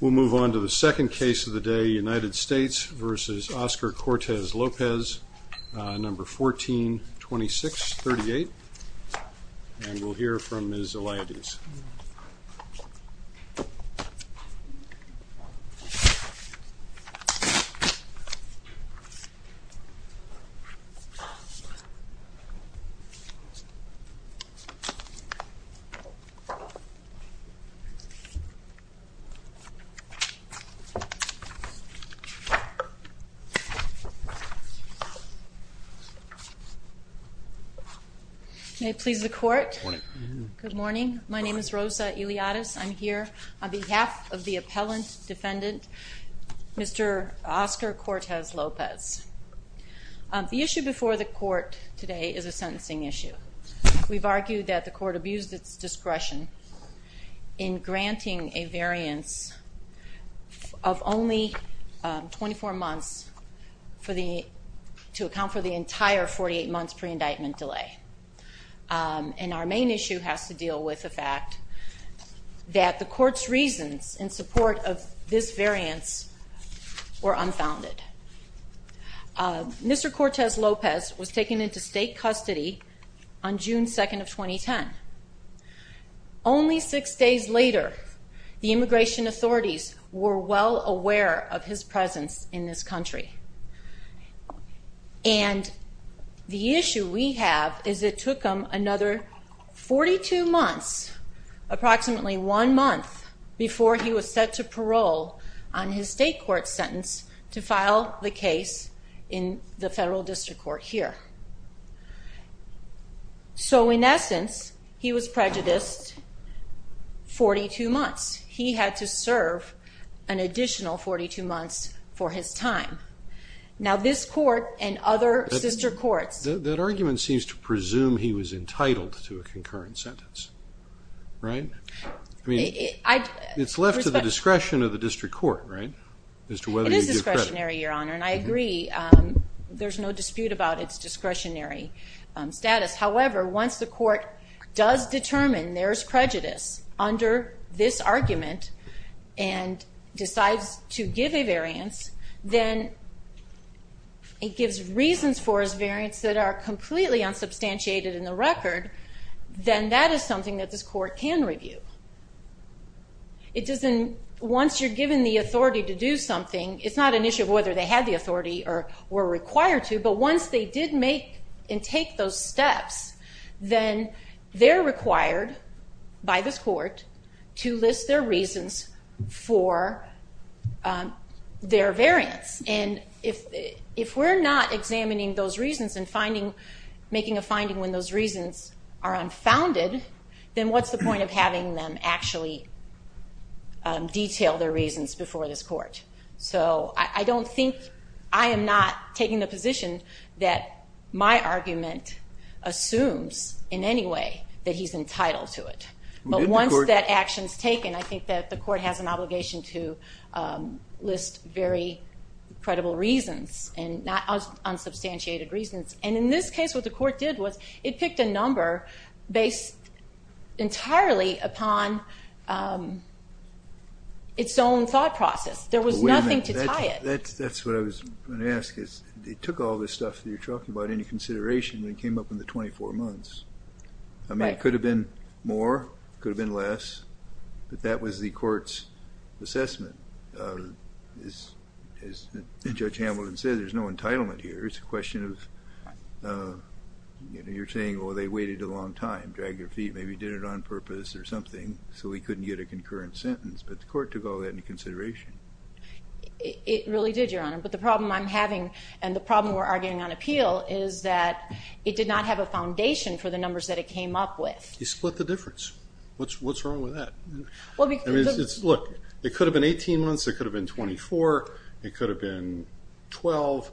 We'll move on to the second case of the day, United States v. Oscar Cortez-Lopez, number 142638, and we'll hear from Ms. Eliadez. Ms. Eliadez, I'm here on behalf of the appellant defendant, Mr. Oscar Cortez-Lopez. The issue before the court today is a sentencing issue. We've argued that the court abused its discretion in granting a variance of only 24 months to account for the entire 48 months pre-indictment delay. And our main issue has to deal with the fact that the court's reasons in support of this variance were unfounded. Mr. Cortez-Lopez was taken into state custody on June 2nd of 2010. Only six days later, the immigration authorities were well aware of his presence in this country. And the issue we have is it took him another 42 months, approximately one month, before he was set to parole on his state court sentence to file the case in the federal district court here. So, in essence, he was prejudiced 42 months. He had to serve an additional 42 months for his time. Now, this court and other sister courts... That argument seems to presume he was entitled to a concurrent sentence, right? I mean, it's left to the discretion of the district court, right? As to whether you give credit. It is discretionary, Your Honor. And I agree, there's no dispute about its discretionary status. However, once the court does determine there's prejudice under this argument and decides to give a variance, then it gives reasons for his variance that are completely unsubstantiated in the record, then that is something that this court can review. It doesn't... Once you're given the authority to do something, it's not an issue of whether they had the authority or were required to, but once they did make and take those steps, then they're required by this court to list their reasons for their variance. And if we're not examining those reasons and making a finding when those reasons are unfounded, then what's the point of having them actually detail their reasons before this court? So I don't think... I am not taking the position that my argument assumes in any way that he's entitled to it. But once that action's taken, I think that the court has an obligation to list very credible reasons and unsubstantiated reasons. And in this case, what the court did was it picked a number based entirely upon its own thought process. There was nothing to tie it. But wait a minute. That's what I was going to ask, is it took all this stuff that you're talking about into consideration and it came up in the 24 months? Right. It could have been more, could have been less, but that was the court's assessment. As Judge Hamilton said, there's no entitlement here. It's a question of, you're saying, oh, they waited a long time, dragged their feet, maybe did it on purpose or something, so we couldn't get a concurrent sentence. But the court took all that into consideration. It really did, Your Honor. But the problem I'm having and the problem we're arguing on appeal is that it did not have a foundation for the numbers that it came up with. You split the difference. What's wrong with that? Look, it could have been 18 months, it could have been 24, it could have been 12.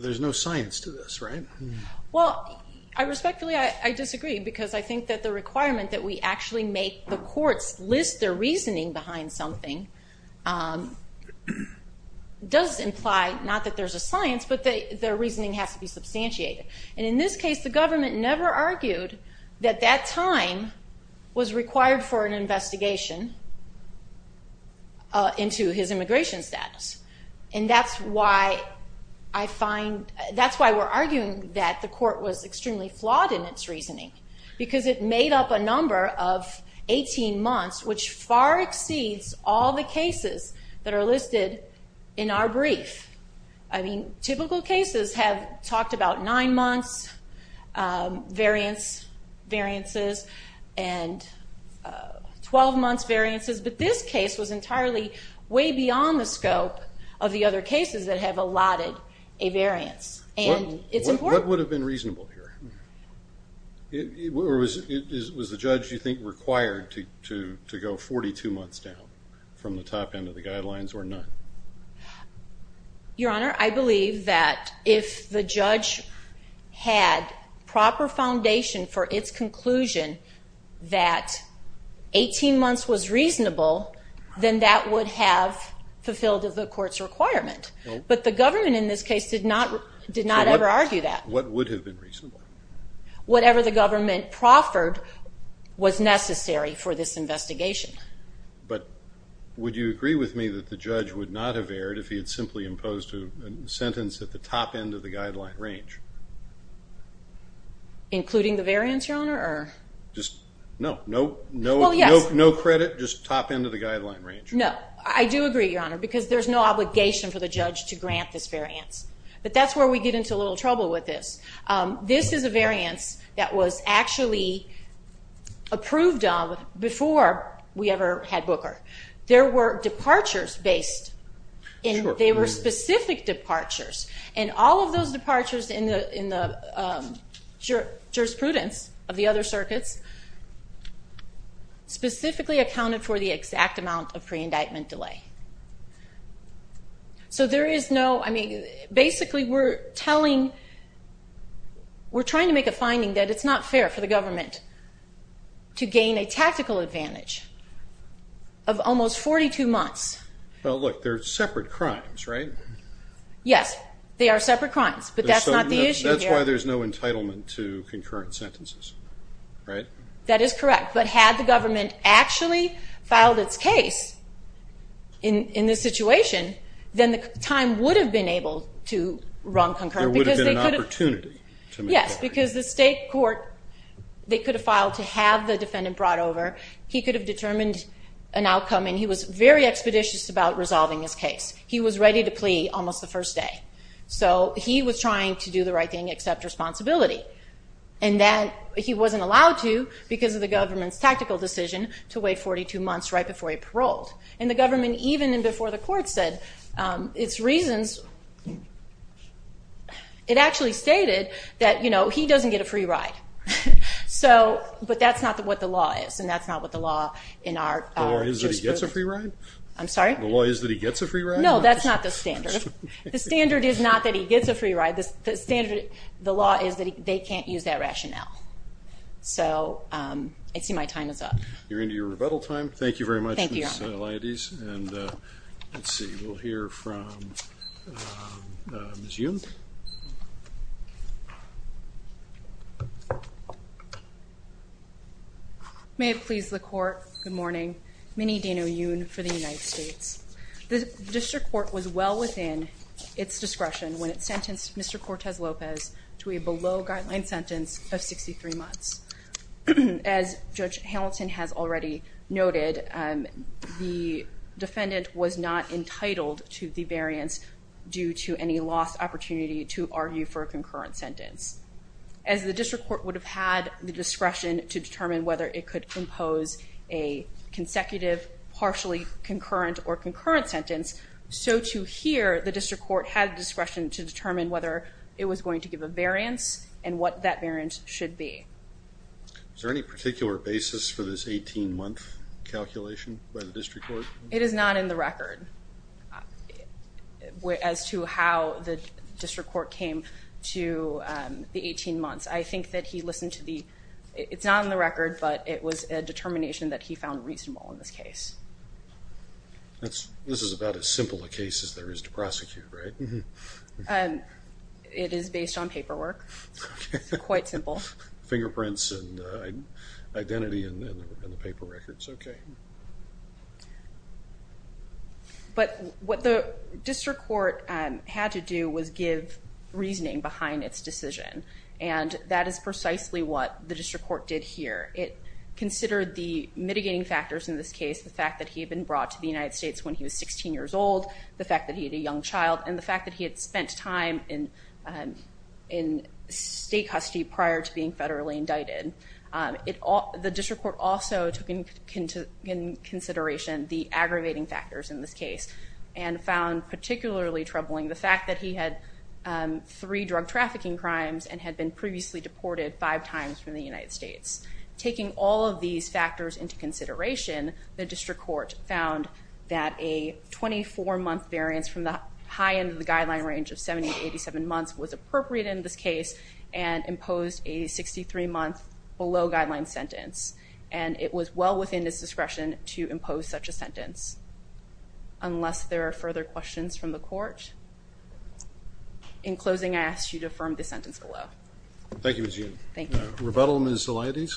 There's no science to this, right? Well, respectfully, I disagree because I think that the requirement that we actually make the courts list their reasoning behind something does imply, not that there's a science, but their reasoning has to be substantiated. And in this case, the government never argued that that time was required for an investigation into his immigration status. And that's why we're arguing that the court was extremely flawed in its reasoning because it made up a number of 18 months, which far exceeds all the cases that are listed in our brief. I mean, typical cases have talked about nine months variances and 12 months variances, but this case was entirely way beyond the scope of the other cases that have allotted a variance. And it's important. What would have been reasonable here? Was the judge, do you think, required to go 42 months down from the top end of the guidelines or not? Your Honor, I believe that if the judge had proper foundation for its conclusion that 18 months was reasonable, then that would have fulfilled the court's requirement. But the government in this case did not ever argue that. What would have been reasonable? Whatever the government proffered was necessary for this investigation. But would you agree with me that the judge would not have erred if he had simply imposed a sentence at the top end of the guideline range? Including the variance, Your Honor, or? Just, no, no credit, just top end of the guideline range. No. I do agree, Your Honor, because there's no obligation for the judge to grant this variance. But that's where we get into a little trouble with this. This is a variance that was actually approved of before we ever had Booker. There were departures based, and they were specific departures. And all of those departures in the jurisprudence of the other circuits specifically accounted for the exact amount of pre-indictment delay. So there is no, I mean, basically we're telling, we're trying to make a finding that it's not fair for the government to gain a tactical advantage of almost 42 months. Well, look, they're separate crimes, right? Yes, they are separate crimes, but that's not the issue here. That's why there's no entitlement to concurrent sentences, right? That is correct. But had the government actually filed its case in this situation, then the time would have been able to run concurrent. There would have been an opportunity to make that. Yes, because the state court, they could have filed to have the defendant brought over. He could have determined an outcome, and he was very expeditious about resolving his case. He was ready to plea almost the first day. So he was trying to do the right thing, accept responsibility. And he wasn't allowed to because of the government's tactical decision to wait 42 months right before he paroled. And the government, even before the court said, its reasons, it actually stated that he doesn't get a free ride. But that's not what the law is, and that's not what the law in our jurisprudence. The law is that he gets a free ride? I'm sorry? The law is that he gets a free ride? No, that's not the standard. The standard is not that he gets a free ride. The standard, the law is that they can't use that rationale. So I see my time is up. You're into your rebuttal time. Thank you very much. Thank you, Your Honor. Ms. Laides. And let's see. We'll hear from Ms. Yoon. May it please the court, good morning. Minnie Deno Yoon for the United States. The district court was well within its discretion when it sentenced Mr. Cortez Lopez to a below guideline sentence of 63 months. As Judge Hamilton has already noted, the defendant was not entitled to the variance due to any lost opportunity to argue for a concurrent sentence. As the district court would have had the discretion to determine whether it could impose a consecutive partially concurrent or concurrent sentence, so too here the district court had discretion to determine whether it was going to give a variance and what that variance should be. Is there any particular basis for this 18 month calculation by the district court? It is not in the record as to how the district court came to the 18 months. I think that he listened to the, it's not in the record, but it was a determination that he found reasonable in this case. This is about as simple a case as there is to prosecute, right? It is based on paperwork. Quite simple. Fingerprints and identity in the paper records, okay. But what the district court had to do was give reasoning behind its decision and that is precisely what the district court did here. It considered the mitigating factors in this case, the fact that he had been brought to the United States when he was 16 years old, the fact that he had a young child, and the fact that he had spent time in state custody prior to being federally indicted. The district court also took into consideration the aggravating factors in this case and found particularly troubling the fact that he had three drug trafficking crimes and had been Taking all of these factors into consideration, the district court found that a 24-month variance from the high end of the guideline range of 70 to 87 months was appropriate in this case and imposed a 63-month below guideline sentence. And it was well within his discretion to impose such a sentence unless there are further questions from the court. In closing, I ask you to affirm this sentence below. Thank you, Ms. Yoon. Thank you. Rebuttal, Ms. Zelaitis.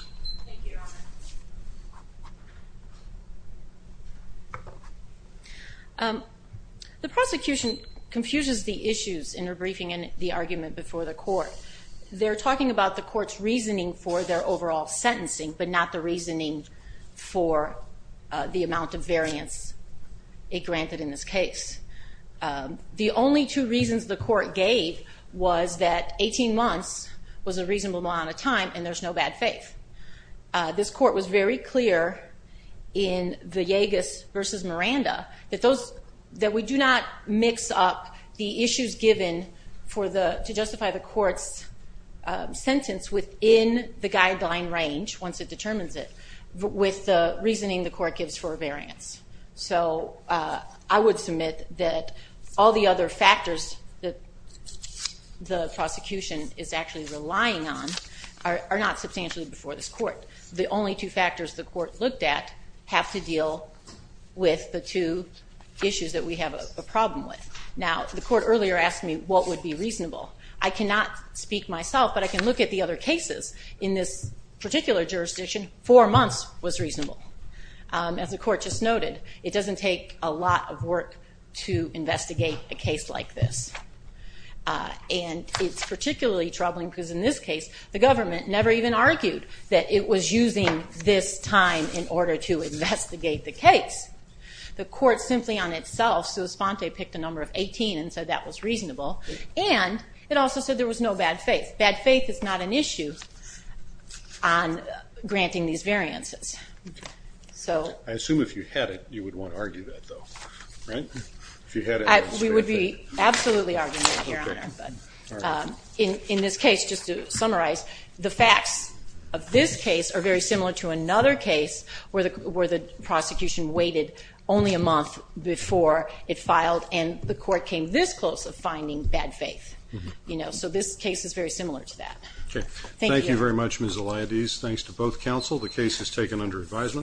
Thank you, Your Honor. The prosecution confuses the issues in their briefing and the argument before the court. They're talking about the court's reasoning for their overall sentencing but not the reasoning for the amount of variance it granted in this case. The only two reasons the court gave was that 18 months was a reasonable amount of time and there's no bad faith. This court was very clear in the Yegas versus Miranda that we do not mix up the issues given for the, to justify the court's sentence within the guideline range once it determines it with the reasoning the court gives for a variance. So I would submit that all the other factors that the prosecution is actually relying on are not substantially before this court. The only two factors the court looked at have to deal with the two issues that we have a problem with. Now, the court earlier asked me what would be reasonable. I cannot speak myself but I can look at the other cases. In this particular jurisdiction, four months was reasonable. As the court just noted, it doesn't take a lot of work to investigate a case like this. And it's particularly troubling because in this case, the government never even argued that it was using this time in order to investigate the case. The court simply on itself, sua sponte, picked a number of 18 and said that was reasonable and it also said there was no bad faith. Bad faith is not an issue on granting these variances. So... I assume if you had it, you would want to argue that though, right? If you had it... We would be absolutely arguing it here, but in this case, just to summarize, the facts of this case are very similar to another case where the prosecution waited only a month before it filed and the court came this close of finding bad faith, you know. So this case is very similar to that. Okay. Thank you. Thank you very much, Ms. Eliadees. Thanks to both counsel. The case is taken under advisement.